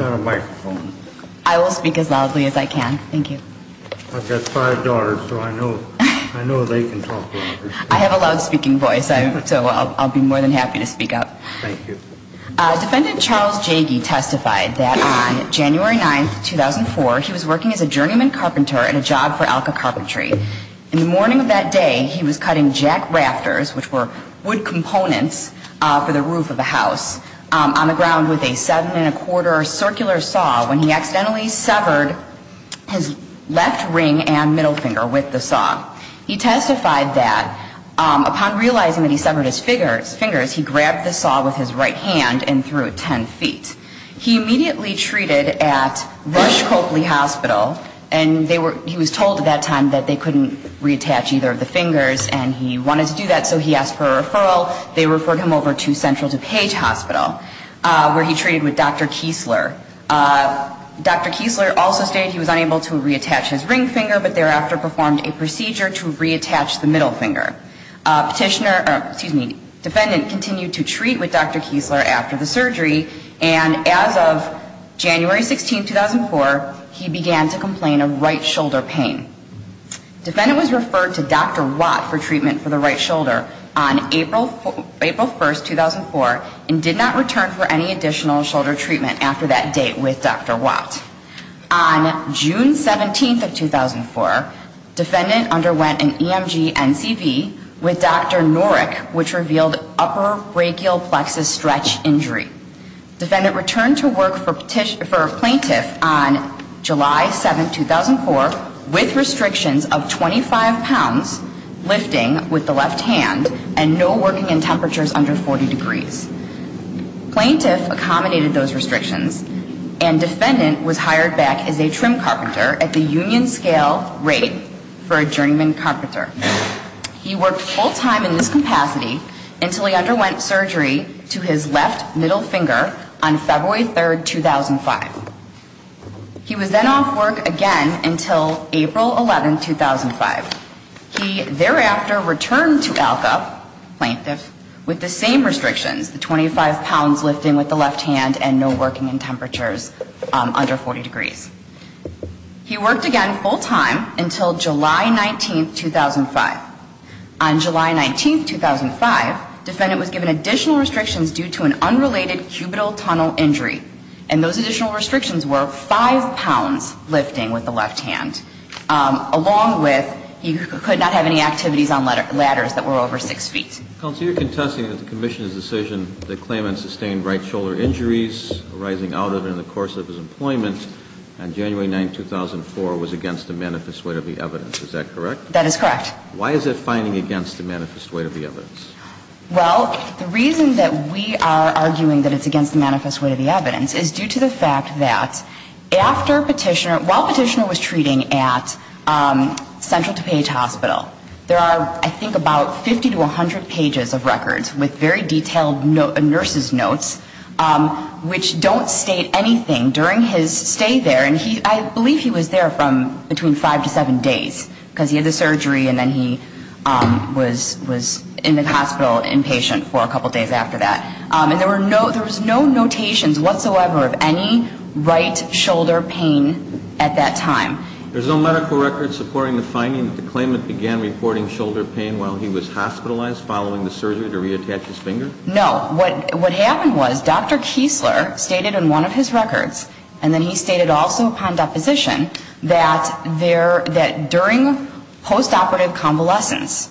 I will speak as loudly as I can. Thank you. I've got five daughters, so I know they can talk louder. I have a loud speaking voice, so I'll be more than happy to speak up. Thank you. Defendant Charles Jagie testified that on January 9, 2004, he was working as a journeyman carpenter at a job for ALCA Carpentry. In the morning of that day, he was cutting jack rafters, which were wood components for the roof of a house, on the ground with a 7 1⁄4 circular saw when he accidentally severed his left ring and middle finger with the saw. He testified that upon realizing that he severed his fingers, he grabbed the saw with his right hand and threw it 10 feet. He immediately treated at Rush-Copley Hospital, and he was told at that time that they couldn't reattach either of the fingers, and so they referred him over to Central DuPage Hospital, where he treated with Dr. Kiesler. Dr. Kiesler also stated he was unable to reattach his ring finger, but thereafter performed a procedure to reattach the middle finger. Defendant continued to treat with Dr. Kiesler after the surgery, and as of January 16, 2004, he began to complain of right shoulder pain. Defendant was referred to Dr. Watt for treatment for the right shoulder on April 1, 2004, and did not return for any additional shoulder treatment after that date with Dr. Watt. On June 17, 2004, defendant underwent an EMG-NCV with Dr. Norick, which revealed upper brachial plexus stretch injury. Defendant returned to work for plaintiff on July 7, 2004, with restrictions of 25 pounds lifting with the left hand and no working in temperatures under 40 degrees. Plaintiff accommodated those restrictions, and defendant was hired back as a trim carpenter at the union-scale rate for a journeyman carpenter. He worked full-time in this capacity until he underwent surgery to his left middle finger on February 3, 2005. He was then off work again until April 11, 2005. He thereafter returned to ALCA, plaintiff, with the same restrictions, the 25 pounds lifting with the left hand and no working in temperatures under 40 degrees. He worked again full-time until July 19, 2005. On July 19, 2005, defendant was given additional restrictions due to an unrelated cubital tunnel injury, and those additional restrictions were 5 pounds lifting with the left hand, along with he could not have any activities on ladders that were over 6 feet. Counsel, you're contesting that the commission's decision that claimant sustained right shoulder injuries arising out of and in the course of his employment on January 9, 2004 was against the manifest weight of the evidence. Is that correct? That is correct. Why is it finding against the manifest weight of the evidence? Well, the reason that we are arguing that it's against the manifest weight of the evidence is due to the fact that after Petitioner, while Petitioner was treating at Central DuPage Hospital, there are I think about 50 to 100 pages of records with very detailed nurse's notes, which don't state anything during his stay there. And I believe he was there from between 5 to 7 days, because he had the surgery and then he was in the hospital inpatient for a couple days after that. And there was no notations whatsoever of any right shoulder pain at that time. There's no medical record supporting the finding that the claimant began reporting shoulder pain while he was hospitalized following the surgery to reattach his finger? No. What happened was Dr. Kiesler stated in one of his records, and then he stated also upon deposition, that during postoperative convalescence,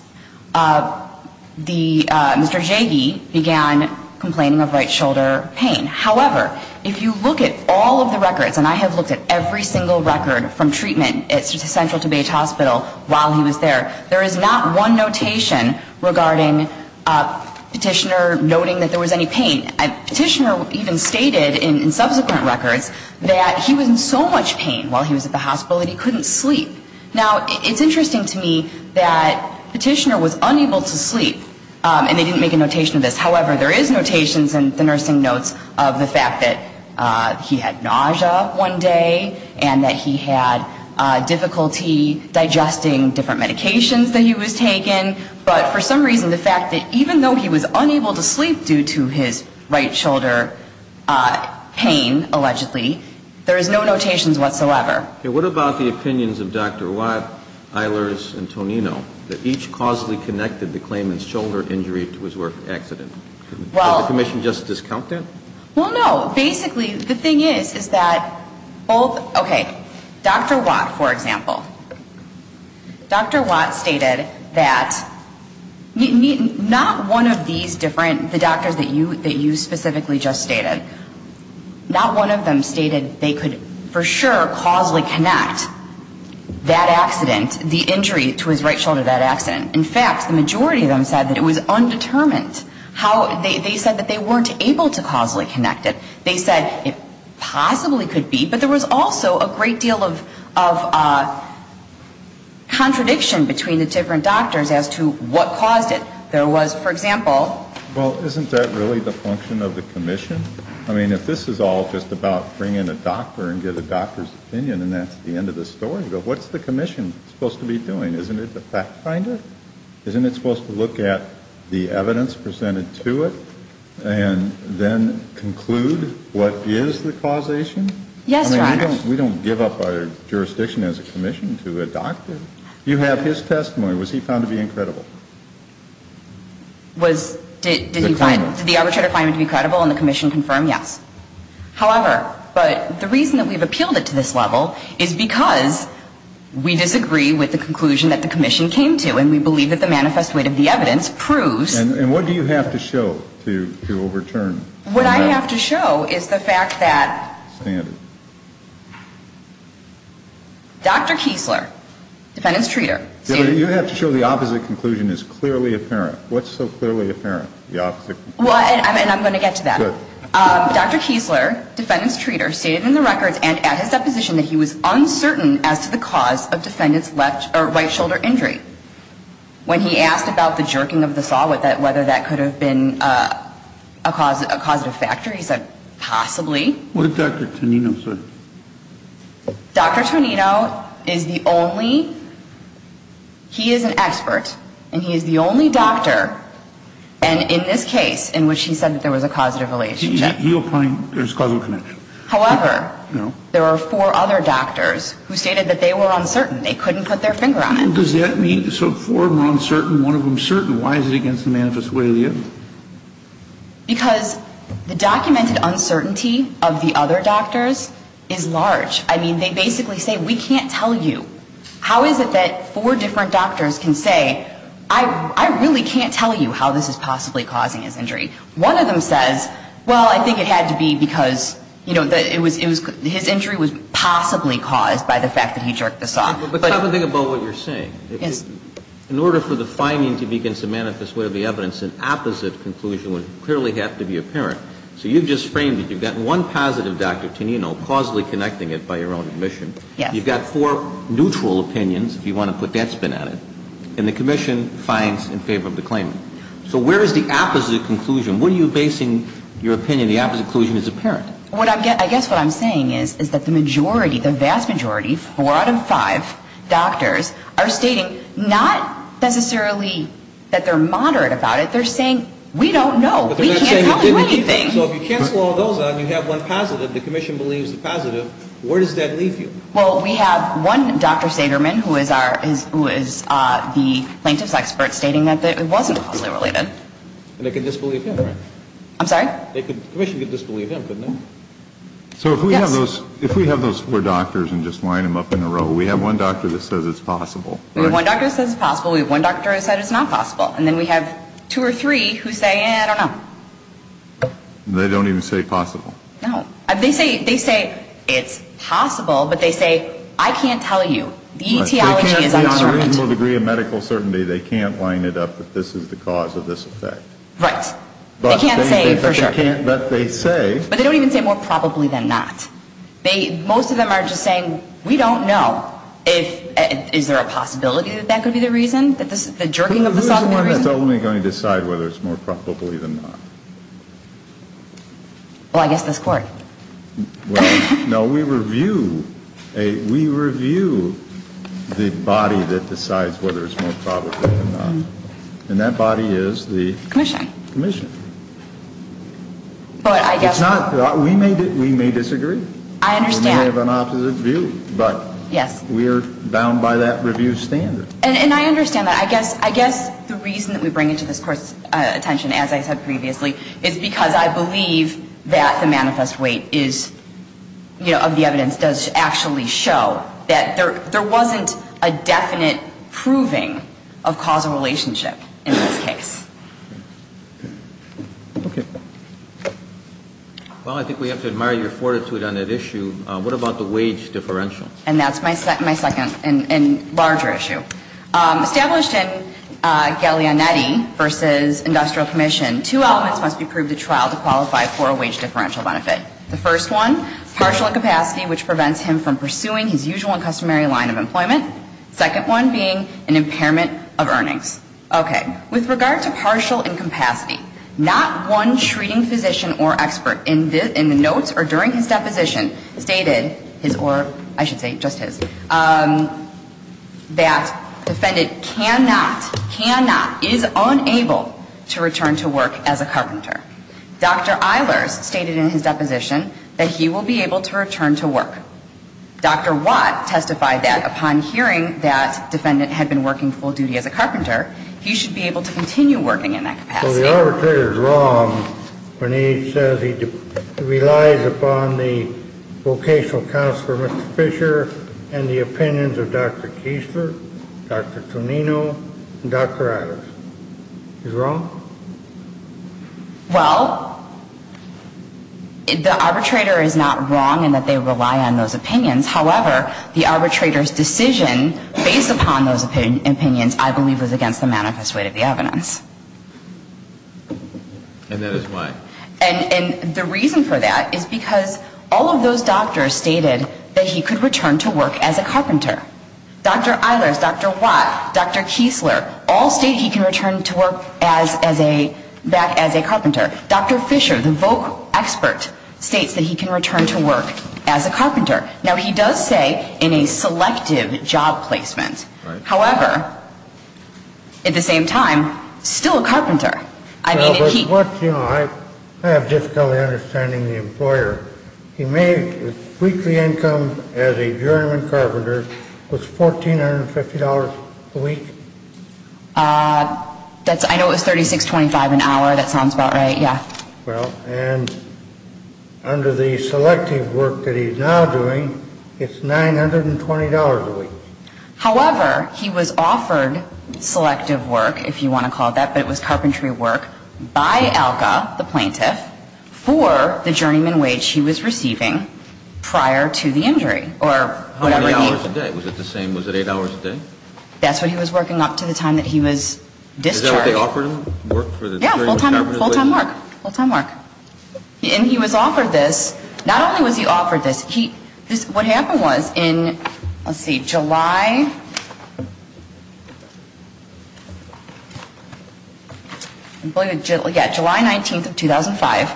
Mr. Jagie began complaining of right shoulder pain. However, if you look at all of the records, and I have looked at every single record from treatment at Central DuPage Hospital while he was there, there is not one notation regarding Petitioner noting that there was any pain. Petitioner even stated in subsequent records that he was in so much pain while he was at the hospital that he couldn't sleep. Now, it's interesting to me that Petitioner was unable to sleep, and they didn't make a notation of this. However, there is notations in the nursing notes of the fact that he had nausea one day and that he had difficulty digesting different medications that he was taking. But for some reason, the fact that even though he was unable to sleep due to his right shoulder pain, allegedly, there is no notations whatsoever. Now, what about the opinions of Dr. Watt, Eilers, and Tonino, that each causally connected the claimant's shoulder injury to his work accident? Did the Commission just discount that? Well, no. Basically, the thing is, is that both, okay, Dr. Watt, for example, Dr. Watt stated that not one of these different, the doctors that you specifically just stated, not one of them stated they could for sure causally connect that accident, the injury to his right shoulder, that accident. In fact, the majority of them said that it was undetermined. They said that they weren't able to causally connect it. They said it possibly could be, but there was also a great deal of contradiction between the different doctors as to what caused it. There was, for example. Well, isn't that really the function of the Commission? I mean, if this is all just about bringing a doctor and get a doctor's opinion and that's the end of the story, what's the Commission supposed to be doing? Isn't it the fact finder? Isn't it supposed to look at the evidence presented to it and then conclude what is the causation? Yes, Your Honor. I mean, we don't give up our jurisdiction as a Commission to a doctor. You have his testimony. Was he found to be incredible? Did the arbitrator find him to be credible and the Commission confirm? Yes. However, but the reason that we've appealed it to this level is because we disagree with the conclusion that the Commission came to, and we believe that the manifest weight of the evidence proves. And what do you have to show to overturn? What I have to show is the fact that Dr. Kiesler, defendant's treater. You have to show the opposite conclusion is clearly apparent. What's so clearly apparent? And I'm going to get to that. Dr. Kiesler, defendant's treater, stated in the records and at his deposition that he was uncertain as to the cause of defendant's right shoulder injury. When he asked about the jerking of the saw, whether that could have been a causative factor, he said, possibly. What did Dr. Tonino say? Dr. Tonino is the only, he is an expert, and he is the only doctor, and in this case in which he said that there was a causative relationship. He opined there's causal connection. However, there are four other doctors who stated that they were uncertain. They couldn't put their finger on it. Does that mean, so four of them are uncertain, one of them certain. Why is it against the manifest weight of the evidence? Because the documented uncertainty of the other doctors is large. I mean, they basically say, we can't tell you. How is it that four different doctors can say, I really can't tell you how this is possibly causing his injury? One of them says, well, I think it had to be because, you know, his injury was possibly caused by the fact that he jerked the saw. But think about what you're saying. Yes. In order for the finding to be against the manifest weight of the evidence, an opposite conclusion would clearly have to be apparent. So you've just framed it. You've got one positive, Dr. Tonino, causally connecting it by your own admission. Yes. You've got four neutral opinions, if you want to put that spin on it, and the commission finds in favor of the claim. So where is the opposite conclusion? What are you basing your opinion, the opposite conclusion, as apparent? I guess what I'm saying is that the majority, the vast majority, four out of five doctors are stating not necessarily that they're moderate about it. They're saying, we don't know. We can't tell you anything. So if you cancel all those out and you have one positive, the commission believes the positive, where does that leave you? Well, we have one Dr. Sederman, who is the plaintiff's expert, stating that it wasn't causally related. And they could disbelieve him, right? I'm sorry? The commission could disbelieve him, couldn't they? Yes. If we have those four doctors and just line them up in a row, we have one doctor that says it's possible. We have one doctor that says it's possible. We have one doctor that says it's not possible. And then we have two or three who say, eh, I don't know. They don't even say possible. No. They say it's possible, but they say, I can't tell you. The etiology is an argument. They can't give a reasonable degree of medical certainty. They can't line it up that this is the cause of this effect. Right. They can't say for sure. But they say. They say it's more probably than not. Most of them are just saying, we don't know. Is there a possibility that that could be the reason? That the jerking of the saw could be the reason? Who is the one that's only going to decide whether it's more probably than not? Well, I guess this Court. No, we review the body that decides whether it's more probably than not. And that body is the? Commission. Commission. But I guess. It's not. We may disagree. I understand. We may have an opposite view. But. Yes. We are bound by that review standard. And I understand that. I guess the reason that we bring it to this Court's attention, as I said previously, is because I believe that the manifest weight is, you know, of the evidence, does actually show that there wasn't a definite proving of causal relationship in this case. Okay. Well, I think we have to admire your fortitude on that issue. What about the wage differential? And that's my second and larger issue. Established in Galeanetti v. Industrial Commission, two elements must be proved at trial to qualify for a wage differential benefit. The first one, partial incapacity, which prevents him from pursuing his usual and customary line of employment. Second one being an impairment of earnings. Okay. With regard to partial incapacity, not one treating physician or expert in the notes or during his deposition stated his or, I should say, just his, that defendant cannot, cannot, is unable to return to work as a carpenter. Dr. Eilers stated in his deposition that he will be able to return to work. Dr. Watt testified that upon hearing that defendant had been working full duty as a carpenter, he should be able to continue working in that capacity. So the arbitrator is wrong when he says he relies upon the vocational counselor, Mr. Fisher, and the opinions of Dr. Kiesler, Dr. Tonino, and Dr. Eilers. He's wrong? Well, the arbitrator is not wrong in that they rely on those opinions. However, the arbitrator's decision based upon those opinions, I believe, was against the manifest weight of the evidence. And that is why? And the reason for that is because all of those doctors stated that he could return to work as a carpenter. Dr. Eilers, Dr. Watt, Dr. Kiesler, all state he can return to work back as a carpenter. Dr. Fisher, the voc expert, states that he can return to work as a carpenter. Now, he does say in a selective job placement. However, at the same time, still a carpenter. I have difficulty understanding the employer. He made his weekly income as a journeyman carpenter was $1,450 a week. I know it was $36.25 an hour. That sounds about right, yeah. Well, and under the selective work that he's now doing, it's $920 a week. However, he was offered selective work, if you want to call it that, but it was carpentry work by ALCA, the plaintiff, for the journeyman wage he was receiving prior to the injury or whatever he. How many hours a day? Was it the same? Was it eight hours a day? That's what he was working up to the time that he was discharged. Is that what they offered him, work for the journeyman carpenter? Yeah, full-time work. Full-time work. And he was offered this. Not only was he offered this. What happened was in, let's see, July 19th of 2005,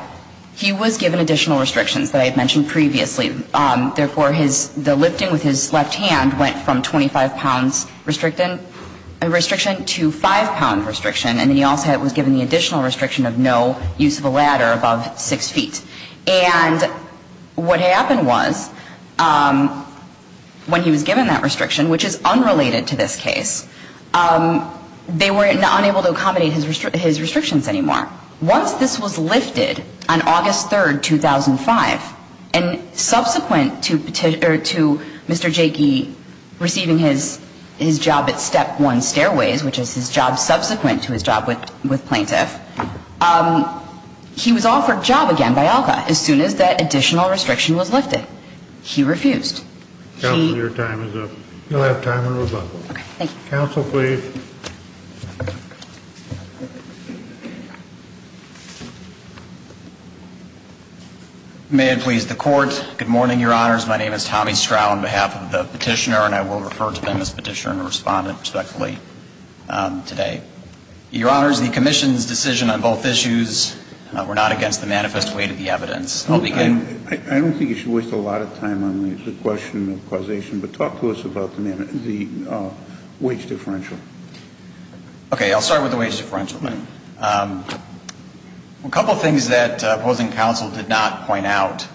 he was given additional restrictions that I had mentioned previously. Therefore, the lifting with his left hand went from 25-pound restriction to 5-pound restriction, and then he also was given the additional restriction of no use of a ladder above 6 feet. And what happened was when he was given that restriction, which is unrelated to this case, they were unable to accommodate his restrictions anymore. Once this was lifted on August 3rd, 2005, and subsequent to Mr. Jeky receiving his job at Step 1 Stairways, which is his job subsequent to his job with plaintiff, he was offered job again by ALCA as soon as that additional restriction was lifted. He refused. Counsel, your time is up. You'll have time in rebuttal. Okay, thank you. Counsel, please. May it please the Court. Good morning, Your Honors. My name is Tommy Stroud on behalf of the Petitioner, and I will refer to them as Petitioner and Respondent respectfully today. Your Honors, the Commission's decision on both issues were not against the manifest weight of the evidence. I'll begin. I don't think you should waste a lot of time on the question of causation, but talk to us about the wage differential. Okay. I'll start with the wage differential then. A couple of things that opposing counsel did not point out.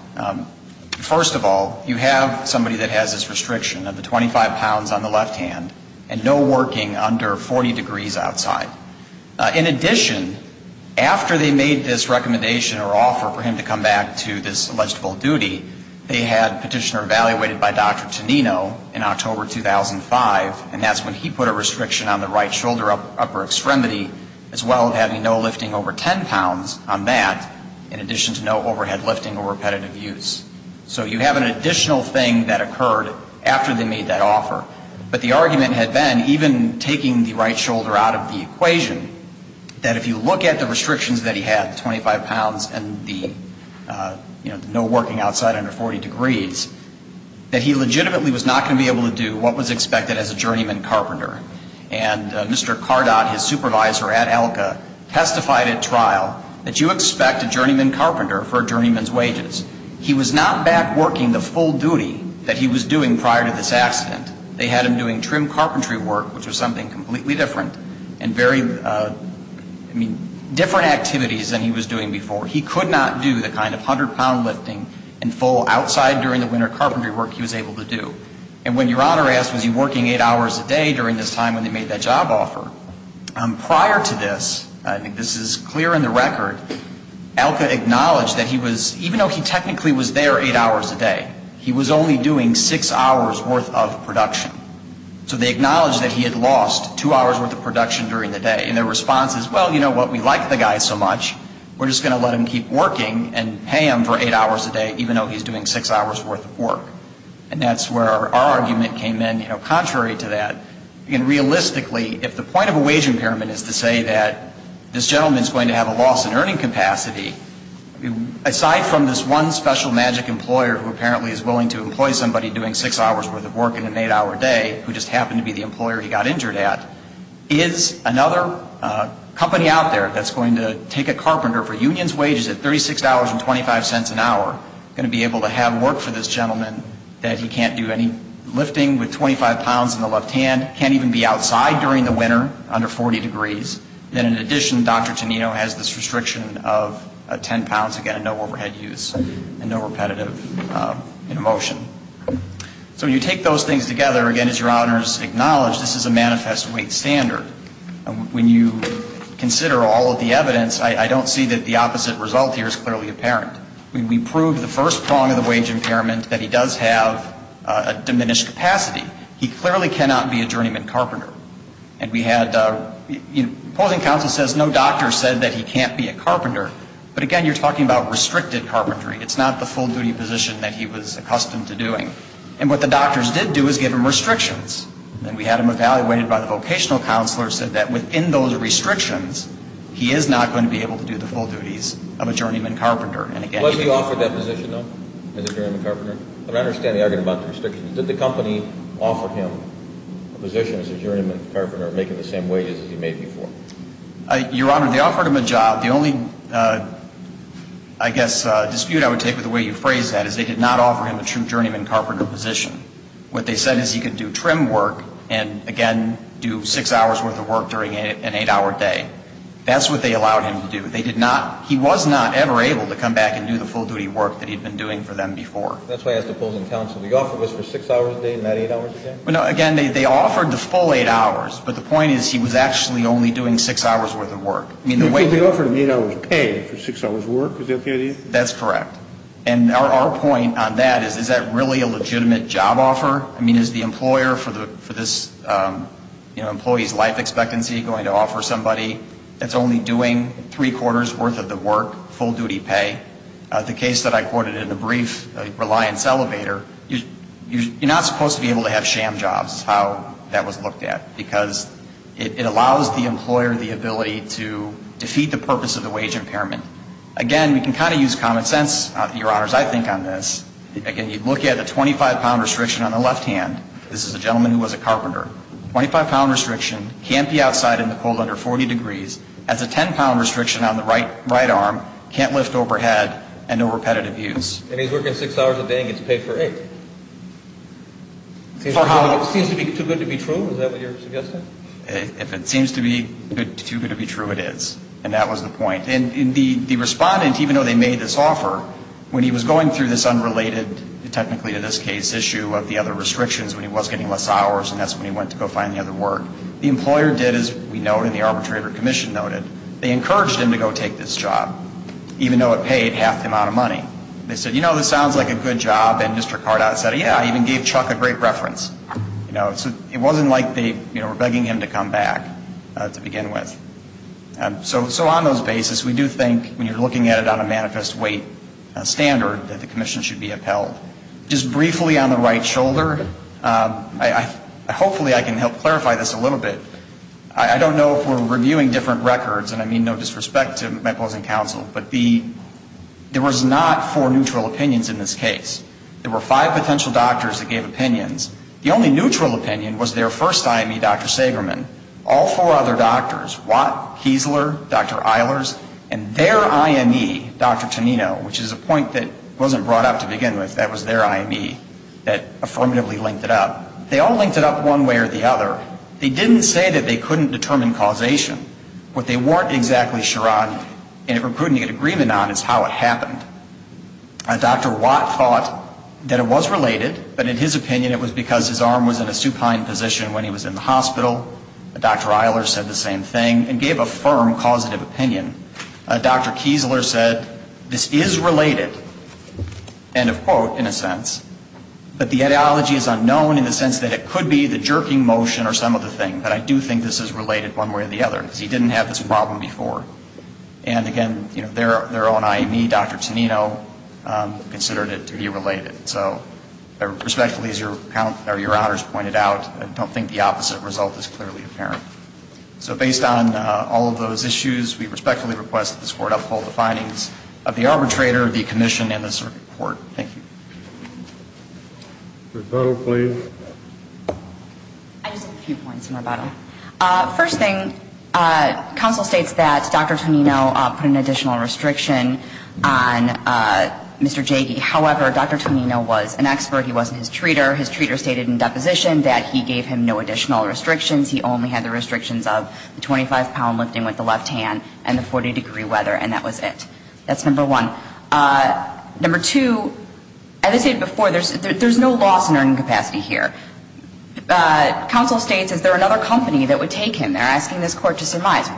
First of all, you have somebody that has this restriction of the 25 pounds on the left hand and no working under 40 degrees outside. In addition, after they made this recommendation or offer for him to come back to this alleged full duty, they had Petitioner evaluated by Dr. Tonino in October 2005, and that's when he put a restriction on the right shoulder upper extremity, as well as having no lifting over 10 pounds on that, in addition to no overhead lifting or repetitive use. So you have an additional thing that occurred after they made that offer. But the argument had been, even taking the right shoulder out of the equation, that if you look at the restrictions that he had, 25 pounds and the no working outside under 40 degrees, that he legitimately was not going to be able to do what was expected as a journeyman carpenter. And Mr. Cardot, his supervisor at ELCA, testified at trial that you expect a journeyman carpenter for a journeyman's wages. He was not back working the full duty that he was doing prior to this accident. They had him doing trim carpentry work, which was something completely different and very, I mean, different activities than he was doing before. He could not do the kind of 100 pound lifting in full outside during the winter carpentry work he was able to do. And when Your Honor asked, was he working eight hours a day during this time when they made that job offer, prior to this, I think this is clear in the record, ELCA acknowledged that he was, even though he technically was there eight hours a day, he was only doing six hours worth of production. So they acknowledged that he had lost two hours worth of production during the day. And their response is, well, you know what, we like the guy so much, we're just going to let him keep working and pay him for eight hours a day, even though he's doing six hours worth of work. And that's where our argument came in, you know, contrary to that. I mean, realistically, if the point of a wage impairment is to say that this gentleman is going to have a loss in earning capacity, aside from this one special magic employer who apparently is willing to employ somebody doing six hours worth of work in an eight-hour day, who just happened to be the employer he got injured at, is another company out there that's going to take a carpenter for union's wages at $36.25 an hour, going to be able to have work for this gentleman that he can't do any lifting with 25 pounds in the left hand, can't even be outside during the winter under 40 degrees. And in addition, Dr. Tonino has this restriction of 10 pounds, again, no overhead use and no repetitive motion. So when you take those things together, again, as your Honors acknowledged, this is a manifest weight standard. When you consider all of the evidence, I don't see that the opposite result here is clearly apparent. We proved the first prong of the wage impairment, that he does have a diminished capacity. He clearly cannot be a journeyman carpenter. And we had, you know, opposing counsel says no doctor said that he can't be a carpenter. But again, you're talking about restricted carpentry. It's not the full-duty position that he was accustomed to doing. And what the doctors did do is give him restrictions. And we had him evaluated by the vocational counselor, said that within those restrictions, he is not going to be able to do the full duties of a journeyman carpenter. Was he offered that position, though, as a journeyman carpenter? I understand the argument about the restrictions. Did the company offer him a position as a journeyman carpenter, making the same wages as he made before? Your Honor, they offered him a job. The only, I guess, dispute I would take with the way you phrased that is they did not offer him a true journeyman carpenter position. What they said is he could do trim work and, again, do six hours' worth of work during an eight-hour day. That's what they allowed him to do. They did not, he was not ever able to come back and do the full-duty work that he had been doing for them before. That's why I asked opposing counsel. The offer was for six hours a day and not eight hours a day? Well, no, again, they offered the full eight hours. But the point is he was actually only doing six hours' worth of work. So they offered him eight hours' pay for six hours' work. Is that the idea? That's correct. And our point on that is, is that really a legitimate job offer? I mean, is the employer for this, you know, employee's life expectancy going to offer somebody that's only doing three-quarters' worth of the work, full-duty pay? The case that I quoted in the brief, Reliance Elevator, you're not supposed to be able to have sham jobs, how that was looked at, because it allows the employer the ability to defeat the purpose of the wage impairment. Again, we can kind of use common sense, Your Honors, I think on this. Again, you look at the 25-pound restriction on the left hand. This is a gentleman who was a carpenter. Twenty-five-pound restriction, can't be outside in the cold under 40 degrees. That's a 10-pound restriction on the right arm, can't lift overhead, and no repetitive use. And he's working six hours a day and gets paid for eight? For how long? Seems to be too good to be true? Is that what you're suggesting? If it seems to be too good to be true, it is. And that was the point. And the respondent, even though they made this offer, when he was going through this unrelated, technically in this case, issue of the other restrictions when he was getting less hours, and that's when he went to go find the other work, the employer did, as we know and the Arbitrator Commission noted, they encouraged him to go take this job, even though it paid half the amount of money. They said, you know, this sounds like a good job, and Mr. Cardot said, yeah, even gave Chuck a great reference. You know, it wasn't like they were begging him to come back to begin with. So on those basis, we do think, when you're looking at it on a manifest weight standard, that the Commission should be upheld. Just briefly on the right shoulder, hopefully I can help clarify this a little bit. I don't know if we're reviewing different records, and I mean no disrespect to my pleasant counsel, but there was not four neutral opinions in this case. There were five potential doctors that gave opinions. The only neutral opinion was their first IME, Dr. Sagerman. All four other doctors, Watt, Kiesler, Dr. Eilers, and their IME, Dr. Tonino, which is a point that wasn't brought up to begin with, that was their IME, that affirmatively linked it up. They all linked it up one way or the other. They didn't say that they couldn't determine causation. What they weren't exactly sure on and couldn't get agreement on is how it happened. Dr. Watt thought that it was related, but in his opinion it was because his arm was in a supine position when he was in the hospital. Dr. Eilers said the same thing and gave a firm causative opinion. Dr. Kiesler said this is related, end of quote, in a sense, but the ideology is unknown in the sense that it could be the jerking motion or some other thing, but I do think this is related one way or the other because he didn't have this problem before. And again, their own IME, Dr. Tonino, considered it to be related. So I respectfully, as your count or your honors pointed out, don't think the opposite result is clearly apparent. So based on all of those issues, we respectfully request that this Court uphold the findings of the arbitrator, the commission, and the circuit court. Thank you. Rebuttal, please. I just have a few points in rebuttal. First thing, counsel states that Dr. Tonino put an additional restriction on Mr. Jagey. However, Dr. Tonino was an expert. He wasn't his treater. His treater stated in deposition that he gave him no additional restrictions. He only had the restrictions of the 25-pound lifting with the left hand and the 40-degree weather, and that was it. That's number one. Number two, as I said before, there's no loss in earning capacity here. Counsel states, is there another company that would take him? They're asking this Court to surmise.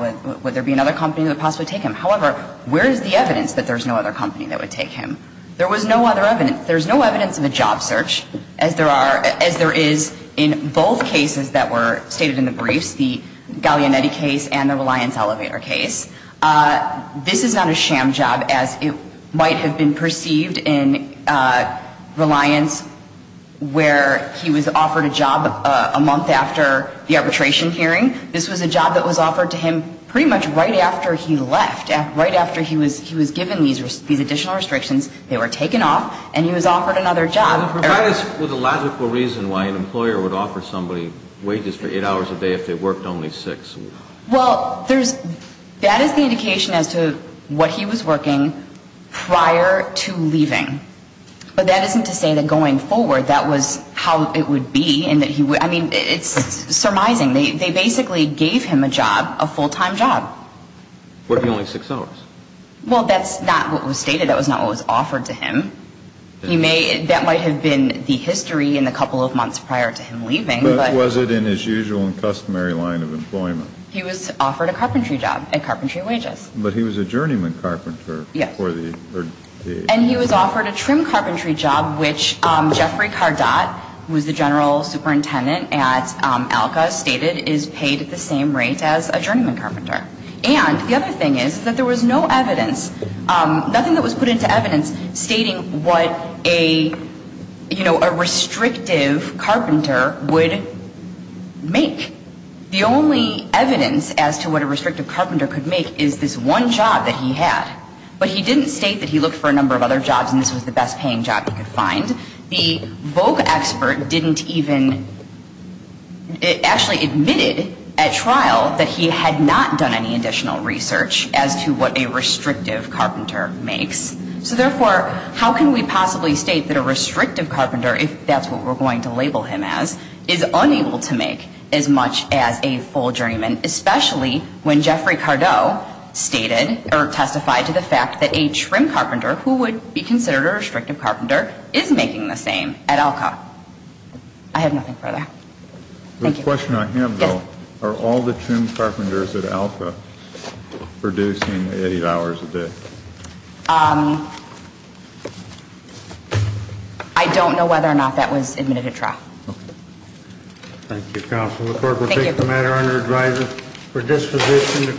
Would there be another company that would possibly take him? However, where is the evidence that there's no other company that would take him? There was no other evidence. There's no evidence of a job search, as there are as there is in both cases that were stated in the briefs, the Gallianetti case and the Reliance elevator case. This is not a sham job, as it might have been perceived in Reliance, where he was offered a job a month after the arbitration hearing. This was a job that was offered to him pretty much right after he left, right after he was given these additional restrictions. They were taken off, and he was offered another job. Well, then provide us with a logical reason why an employer would offer somebody wages for eight hours a day if they worked only six. Well, there's – that is the indication as to what he was working prior to leaving. But that isn't to say that going forward that was how it would be and that he would – I mean, it's surmising. They basically gave him a job, a full-time job. Working only six hours. Well, that's not what was stated. That was not what was offered to him. He may – that might have been the history in the couple of months prior to him leaving, but – But was it in his usual and customary line of employment? He was offered a carpentry job at carpentry wages. But he was a journeyman carpenter for the – Yes. And he was offered a trim carpentry job, which Jeffrey Cardot, who was the general superintendent at ALCA, stated is paid at the same rate as a journeyman carpenter. And the other thing is that there was no evidence – nothing that was put into evidence stating what a, you know, a restrictive carpenter would make. The only evidence as to what a restrictive carpenter could make is this one job that he had. But he didn't state that he looked for a number of other jobs and this was the best-paying job he could find. And the Vogue expert didn't even – actually admitted at trial that he had not done any additional research as to what a restrictive carpenter makes. So, therefore, how can we possibly state that a restrictive carpenter, if that's what we're going to label him as, is unable to make as much as a full journeyman, especially when Jeffrey Cardot stated or testified to the fact that a trim carpenter is making the same at ALCA? I have nothing further. Thank you. The question I have, though, are all the trim carpenters at ALCA producing eight hours a day? I don't know whether or not that was admitted at trial. Thank you, counsel. The court will take the matter under advisory for disposition.